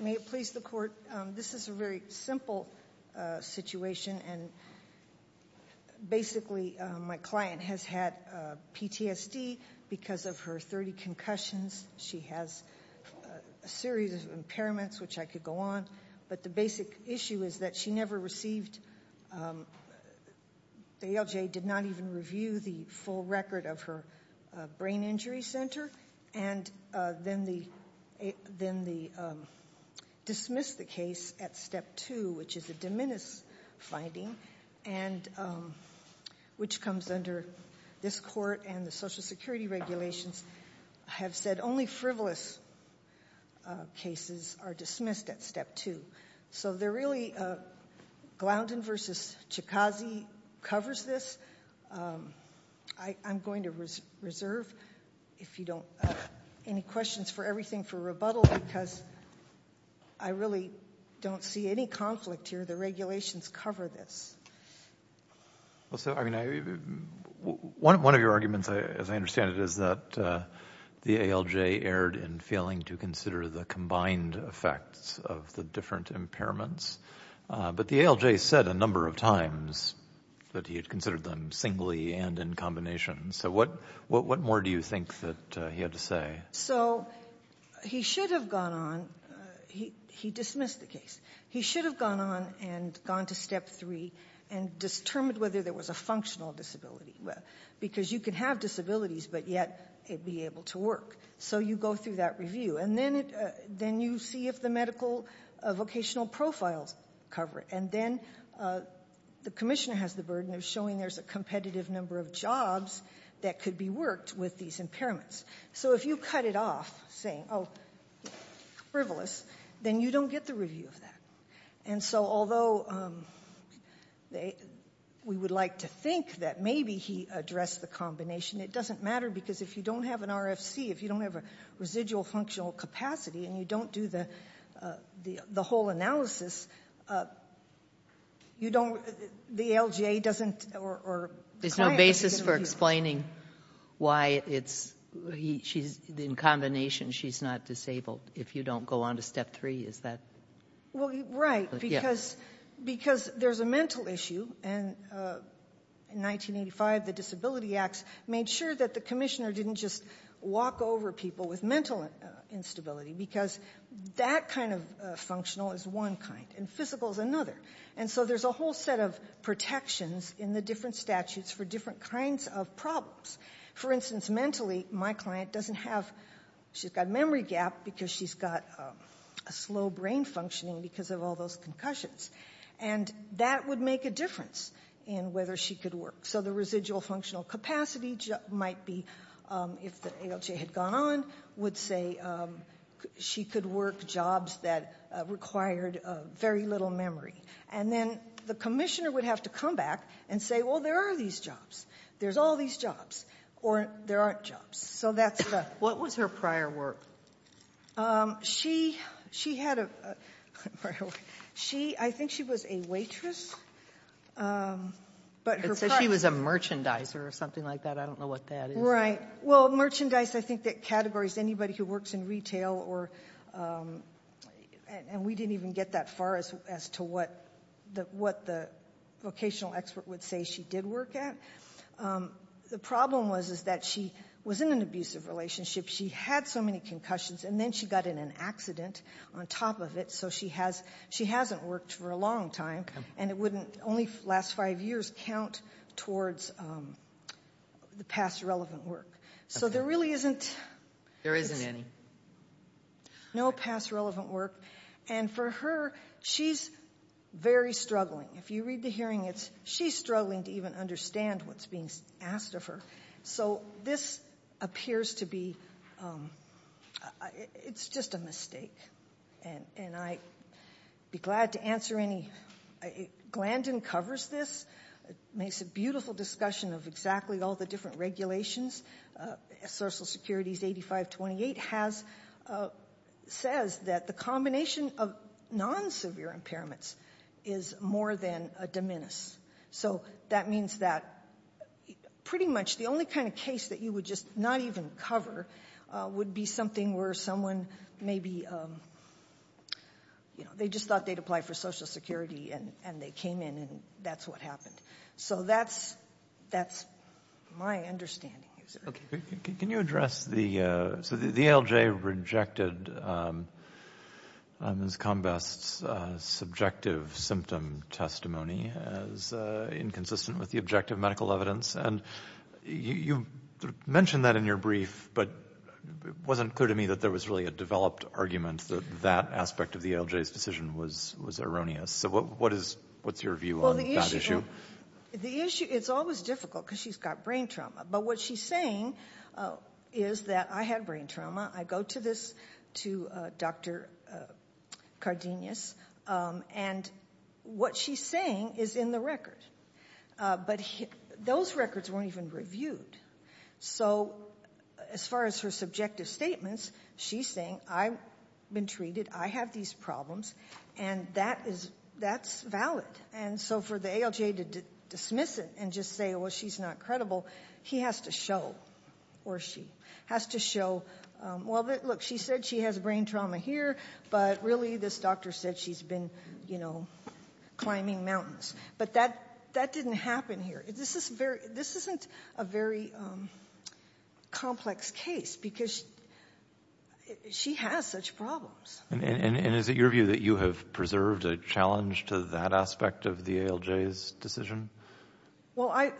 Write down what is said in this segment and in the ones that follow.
May it please the court, this is a very simple situation and basically my client has had PTSD because of her 30 concussions, she has a series of impairments which I could go on but the basic issue is that she never received, the ALJ did not even review the full record of her brain injury center and then they dismissed the case at step 2 which is a diminished finding and which comes under this court and the social security regulations have said only frivolous cases are dismissed at step 2. So they're really, Gloundon v. Chikazi covers this, I'm going to reserve if you don't, any questions for everything for rebuttal because I really don't see any conflict here, the regulations cover this. One of your arguments as I understand it is that the ALJ erred in failing to consider the combined effects of the different impairments but the ALJ said a number of times that he had considered them singly and in combination so what more do you think that he had to say? So he should have gone on, he dismissed the case, he should have gone on and gone to step 3 and determined whether there was a functional disability because you can have disabilities but yet it be able to work. So you go through that review and then you see if the medical vocational profiles cover it and then the commissioner has the burden of showing there's a competitive number of jobs that could be worked with these impairments. So if you cut it off saying, oh frivolous, then you don't get the review of that. And so although we would like to think that maybe he addressed the combination, it doesn't matter because if you don't have an RFC, if you don't have a residual functional capacity and you don't do the whole analysis, you don't, the ALJ doesn't or... There's no basis for explaining why it's, in combination she's not disabled if you don't go on to step 3, is that? Well, right, because there's a mental issue and in 1985 the Disability Acts made sure that the commissioner didn't just walk over people with mental instability because that kind of functional is one kind and physical is another. And so there's a whole set of protections in the different statutes for different kinds of problems. For instance, mentally my client doesn't have, she's got memory gap because she's got a slow brain functioning because of all those concussions. And that would make a difference in whether she could work. So the residual functional capacity might be, if the ALJ had gone on, would say she could work jobs that required very little memory. And then the commissioner would have to come back and say, well, there are these jobs, there's all these jobs, or there aren't jobs. So that's the... What was her prior work? She had a prior work. I think she was a waitress. It says she was a merchandiser or something like that. I don't know what that is. Right. Well, merchandise, I think that categories anybody who works in retail or... And we didn't even get that far as to what the vocational expert would say she did work at. The problem was that she was in an abusive relationship. She had so many concussions, and then she got in an accident on top of it, so she hasn't worked for a long time. Okay. And it wouldn't only last five years count towards the past relevant work. Okay. So there really isn't... There isn't any. No past relevant work. And for her, she's very struggling. If you read the hearing, she's struggling to even understand what's being asked of her. So this appears to be... It's just a mistake. And I'd be glad to answer any... Glandon covers this, makes a beautiful discussion of exactly all the different regulations. Social Security's 8528 says that the combination of non-severe impairments is more than a diminish. So that means that pretty much the only kind of case that you would just not even cover would be something where someone maybe... They just thought they'd apply for Social Security, and they came in, and that's what happened. So that's my understanding. Can you address the... So the ALJ rejected Ms. Combest's subjective symptom testimony as inconsistent with the objective medical evidence, and you mentioned that in your brief, but it wasn't clear to me that there was really a developed argument that that aspect of the ALJ's decision was erroneous. So what's your view on that issue? Well, the issue... It's always difficult because she's got brain trauma, but what she's saying is that, I had brain trauma, I go to Dr. Cardenas, and what she's saying is in the record. But those records weren't even reviewed. So as far as her subjective statements, she's saying, I've been treated, I have these problems, and that's valid. And so for the ALJ to dismiss it and just say, well, she's not credible, he has to show, or she has to show, well, look, she said she has brain trauma here, but really this doctor said she's been climbing mountains. But that didn't happen here. This isn't a very complex case because she has such problems. And is it your view that you have preserved a challenge to that aspect of the ALJ's decision? Well,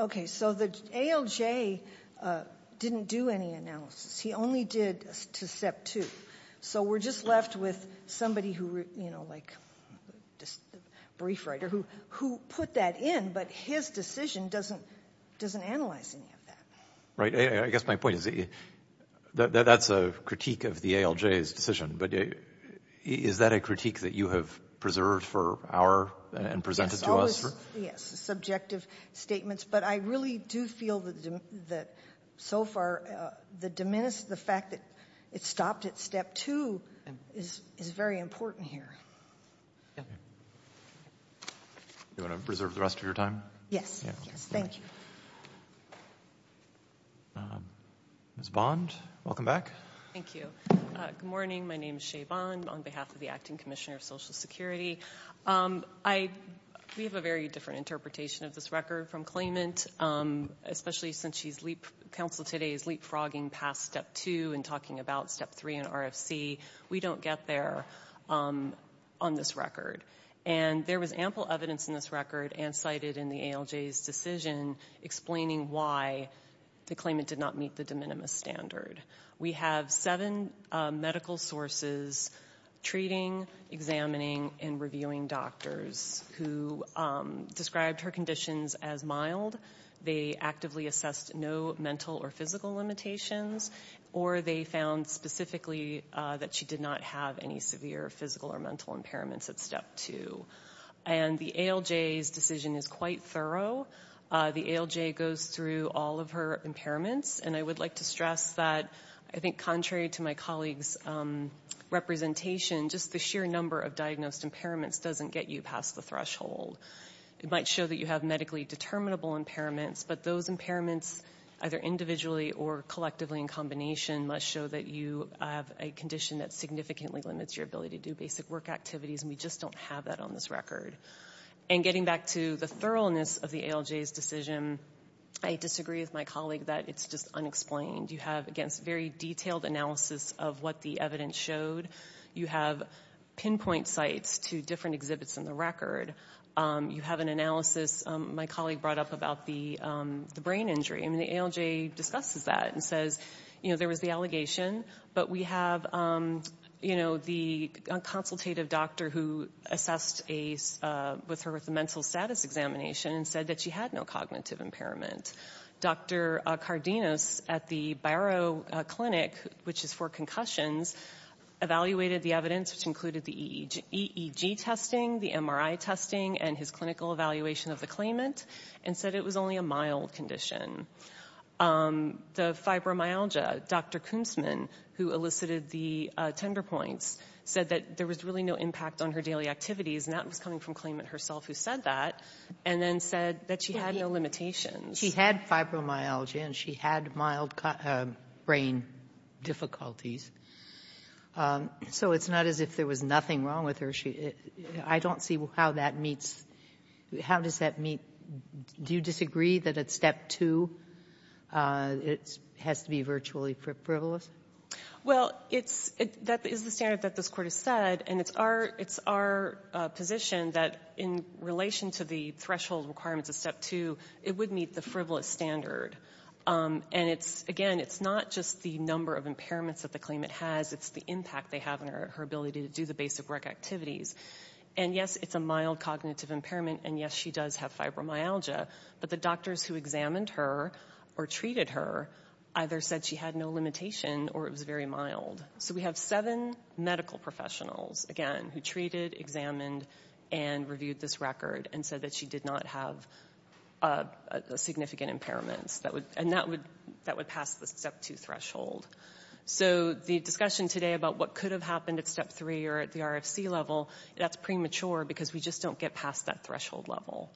okay, so the ALJ didn't do any analysis. He only did to SEP2. So we're just left with somebody who, you know, like a brief writer, who put that in, but his decision doesn't analyze any of that. Right, I guess my point is that that's a critique of the ALJ's decision, but is that a critique that you have preserved for our and presented to us? Yes, subjective statements. But I really do feel that so far the fact that it stopped at SEP2 is very important here. Do you want to preserve the rest of your time? Yes, thank you. Ms. Bond, welcome back. Thank you. Good morning. My name is Shay Bond on behalf of the Acting Commissioner of Social Security. We have a very different interpretation of this record from claimant, especially since Council today is leapfrogging past SEP2 and talking about SEP3 and RFC. We don't get there on this record. And there was ample evidence in this record and cited in the ALJ's decision explaining why the claimant did not meet the de minimis standard. We have seven medical sources treating, examining, and reviewing doctors who described her conditions as mild. They actively assessed no mental or physical limitations, or they found specifically that she did not have any severe physical or mental impairments at SEP2. And the ALJ's decision is quite thorough. The ALJ goes through all of her impairments, and I would like to stress that I think contrary to my colleague's representation, just the sheer number of diagnosed impairments doesn't get you past the threshold. It might show that you have medically determinable impairments, but those impairments, either individually or collectively in combination, must show that you have a condition that significantly limits your ability to do basic work activities, and we just don't have that on this record. And getting back to the thoroughness of the ALJ's decision, I disagree with my colleague that it's just unexplained. You have, again, some very detailed analysis of what the evidence showed. You have pinpoint sites to different exhibits in the record. You have an analysis my colleague brought up about the brain injury, and the ALJ discusses that and says, you know, there was the allegation, but we have, you know, the consultative doctor who assessed with her for the mental status examination and said that she had no cognitive impairment. Dr. Cardenos at the Barrow Clinic, which is for concussions, evaluated the evidence, which included the EEG testing, the MRI testing, and his clinical evaluation of the claimant, and said it was only a mild condition. The fibromyalgia, Dr. Koonsman, who elicited the tender points, said that there was really no impact on her daily activities, and that was coming from claimant herself who said that, and then said that she had no limitations. Sotomayor, she had fibromyalgia, and she had mild brain difficulties. So it's not as if there was nothing wrong with her. I don't see how that meets — how does that meet — do you disagree that at step two, it has to be virtually frivolous? Well, it's — that is the standard that this Court has said, and it's our — it's our position that in relation to the threshold requirements of step two, it would meet the frivolous standard. And it's — again, it's not just the number of impairments that the claimant has, it's the impact they have on her ability to do the basic work activities. And yes, it's a mild cognitive impairment, and yes, she does have fibromyalgia, but the doctors who examined her or treated her either said she had no limitation or it was very mild. So we have seven medical professionals, again, who treated, examined, and reviewed this record and said that she did not have significant impairments. That would — and that would — that would pass the step two threshold. So the discussion today about what could have happened at step three or at the RFC level, that's premature because we just don't get past that threshold level.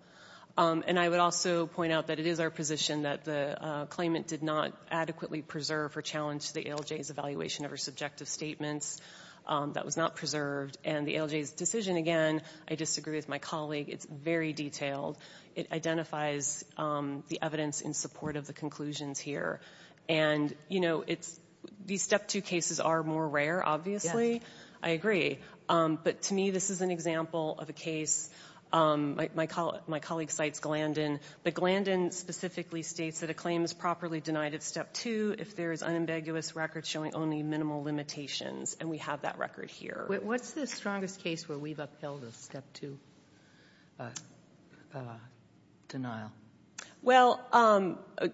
And I would also point out that it is our position that the claimant did not adequately preserve or challenge the ALJ's evaluation of her subjective statements. That was not preserved. And the ALJ's decision, again, I disagree with my colleague. It's very detailed. It identifies the evidence in support of the conclusions here. And, you know, it's — these step two cases are more rare, obviously. I agree. But to me, this is an example of a case — my colleague cites Glandon, but Glandon specifically states that a claim is properly denied at step two if there is unambiguous record showing only minimal limitations. And we have that record here. What's the strongest case where we've upheld a step two denial? Well,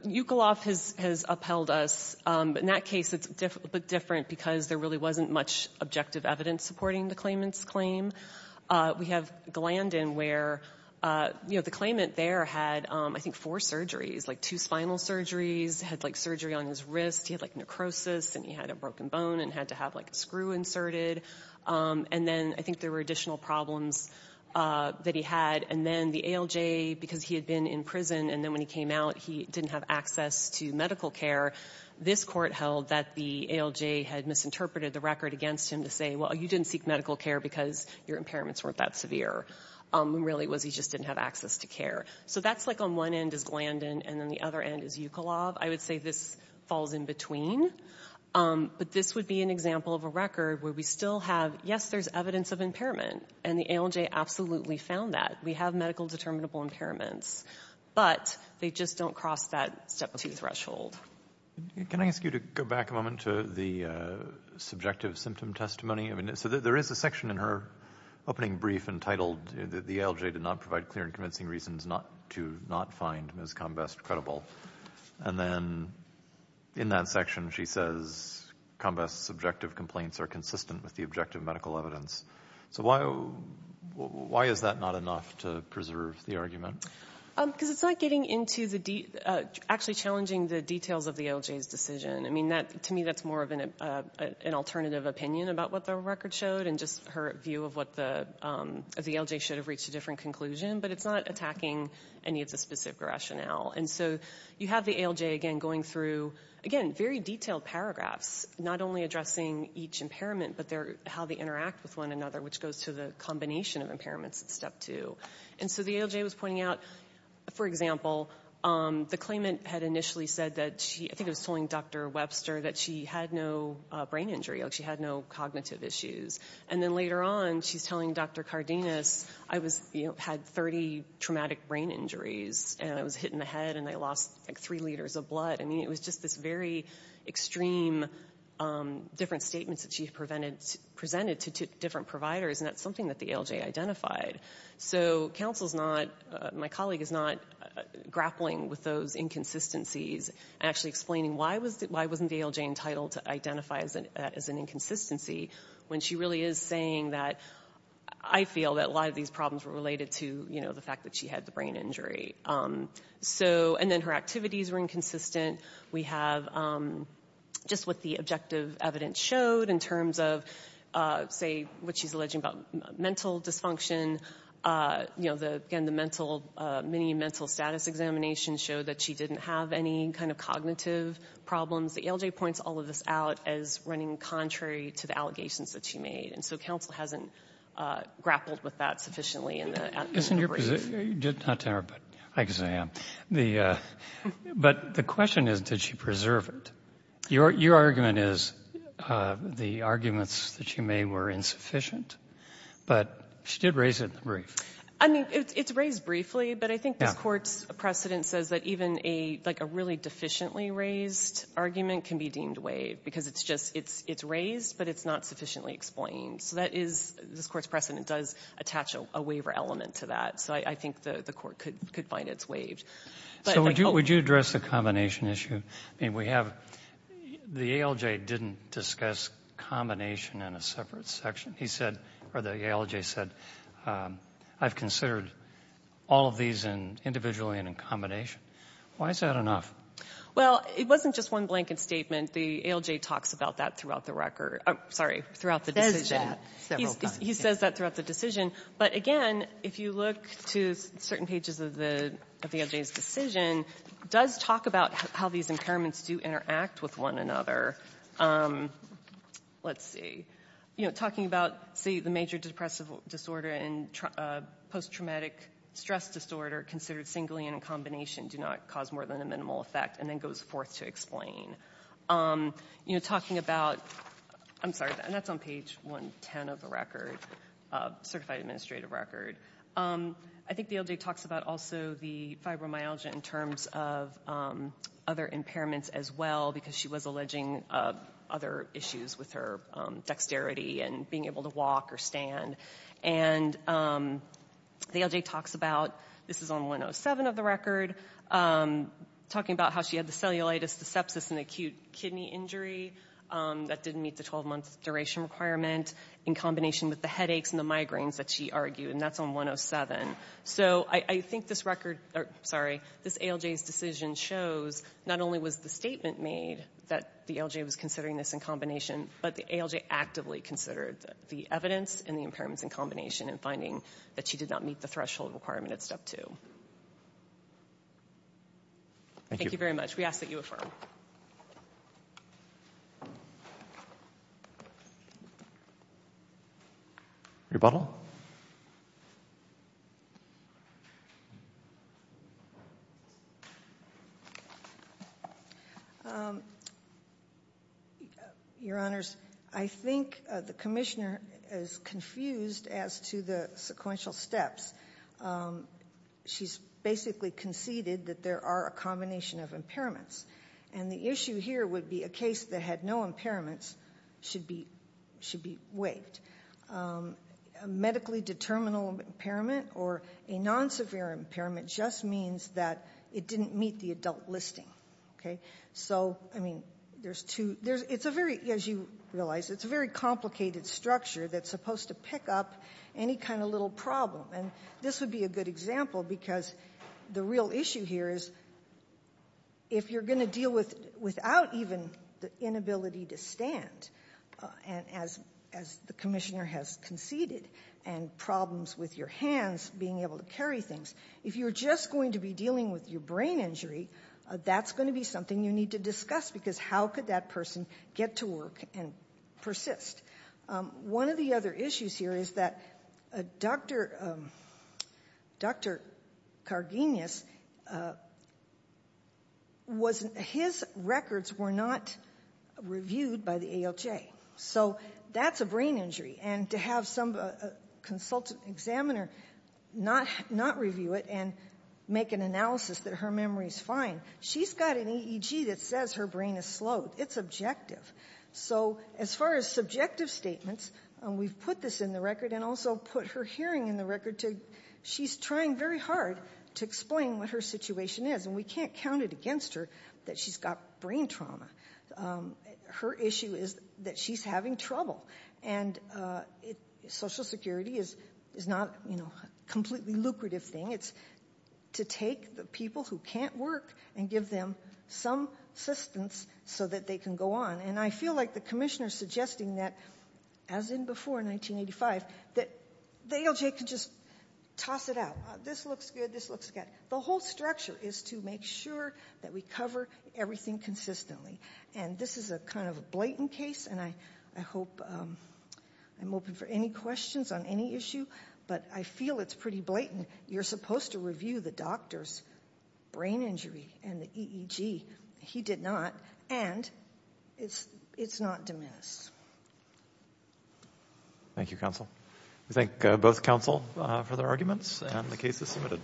Ukolov has — has upheld us. In that case, it's different because there really wasn't much objective evidence supporting the claimant's claim. We have Glandon where, you know, the claimant there had, I think, four surgeries, like two spinal surgeries, had, like, surgery on his wrist. He had, like, necrosis, and he had a broken bone and had to have, like, a screw inserted. And then I think there were additional problems that he had. And then the ALJ, because he had been in prison, and then when he came out, he didn't have access to medical care, this court held that the ALJ had misinterpreted the record against him to say, well, you didn't seek medical care because your impairments weren't that severe. It really was he just didn't have access to care. So that's, like, on one end is Glandon and on the other end is Ukolov. I would say this falls in between. But this would be an example of a record where we still have, yes, there's evidence of impairment, and the ALJ absolutely found that. We have medical determinable impairments, but they just don't cross that step two threshold. Can I ask you to go back a moment to the subjective symptom testimony? So there is a section in her opening brief entitled, The ALJ did not provide clear and convincing reasons to not find Ms. Combest credible. And then in that section she says, Combest's subjective complaints are consistent with the objective medical evidence. So why is that not enough to preserve the argument? Because it's not getting into the de- actually challenging the details of the ALJ's decision. I mean, to me that's more of an alternative opinion about what the record showed and just her view of what the ALJ should have reached a different conclusion, but it's not attacking any of the specific rationale. And so you have the ALJ, again, going through, again, very detailed paragraphs, not only addressing each impairment, but how they interact with one another, which goes to the combination of impairments at step two. And so the ALJ was pointing out, for example, the claimant had initially said that she- I think it was telling Dr. Webster that she had no brain injury, like she had no cognitive issues. And then later on she's telling Dr. Cardenas, I was- had 30 traumatic brain injuries, and I was hit in the head and I lost like three liters of blood. I mean, it was just this very extreme, different statements that she had presented to different providers, and that's something that the ALJ identified. So counsel's not- my colleague is not grappling with those inconsistencies and actually explaining why wasn't the ALJ entitled to identify as an inconsistency when she really is saying that I feel that a lot of these problems were related to, you know, the fact that she had the brain injury. So- and then her activities were inconsistent. We have just what the objective evidence showed in terms of, say, what she's alleging about mental dysfunction. You know, again, the mental- many mental status examinations show that she didn't have any kind of cognitive problems. The ALJ points all of this out as running contrary to the allegations that she made. And so counsel hasn't grappled with that sufficiently in the- Isn't your- not to interrupt, but I guess I am. But the question is, did she preserve it? Your argument is the arguments that she made were insufficient, but she did raise it in the brief. I mean, it's raised briefly, but I think this Court's precedent says that even a- like a really deficiently raised argument can be deemed waived because it's just- it's raised, but it's not sufficiently explained. So that is- this Court's precedent does attach a waiver element to that. So I think the Court could find it's waived. So would you address the combination issue? I mean, we have- the ALJ didn't discuss combination in a separate section. He said- or the ALJ said, I've considered all of these individually and in combination. Why is that enough? Well, it wasn't just one blanket statement. The ALJ talks about that throughout the record- sorry, throughout the decision. Says that several times. He says that throughout the decision. But again, if you look to certain pages of the ALJ's decision, it does talk about how these impairments do interact with one another. Let's see. You know, talking about, say, the major depressive disorder and post-traumatic stress disorder considered singly and in combination do not cause more than a minimal effect, and then goes forth to explain. You know, talking about- I'm sorry, and that's on page 110 of the record, certified administrative record. I think the ALJ talks about also the fibromyalgia in terms of other impairments as well because she was alleging other issues with her dexterity and being able to walk or stand. And the ALJ talks about- this is on 107 of the record- talking about how she had the cellulitis, the sepsis, and acute kidney injury that didn't meet the 12-month duration requirement in combination with the headaches and the migraines that she argued, and that's on 107. So I think this ALJ's decision shows not only was the statement made that the ALJ was considering this in combination, but the ALJ actively considered the evidence and the impairments in combination in finding that she did not meet the threshold requirement at step two. Thank you very much. We ask that you affirm. Rebuttal. Your Honors, I think the Commissioner is confused as to the sequential steps. She's basically conceded that there are a combination of impairments, and the issue here would be a case that had no impairments should be waived. A medically determinable impairment or a non-severe impairment just means that it didn't meet the adult listing. So, I mean, there's two- it's a very, as you realize, it's a very complicated structure that's supposed to pick up any kind of little problem. And this would be a good example because the real issue here is if you're going to deal without even the inability to stand, as the Commissioner has conceded, and problems with your hands being able to carry things, if you're just going to be dealing with your brain injury, that's going to be something you need to discuss because how could that person get to work and persist? One of the other issues here is that Dr. Cargenius was- his records were not reviewed by the ALJ. So that's a brain injury, and to have some consultant examiner not review it and make an analysis that her memory's fine, she's got an EEG that says her brain is slowed. It's objective. So as far as subjective statements, we've put this in the record and also put her hearing in the record too. She's trying very hard to explain what her situation is, and we can't count it against her that she's got brain trauma. Her issue is that she's having trouble, and Social Security is not a completely lucrative thing. It's to take the people who can't work and give them some assistance so that they can go on. And I feel like the commissioner's suggesting that, as in before 1985, that the ALJ could just toss it out. This looks good, this looks bad. The whole structure is to make sure that we cover everything consistently. And this is a kind of blatant case, and I'm open for any questions on any issue, but I feel it's pretty blatant. And you're supposed to review the doctor's brain injury and the EEG. He did not, and it's not diminished. Thank you, counsel. We thank both counsel for their arguments, and the case is submitted.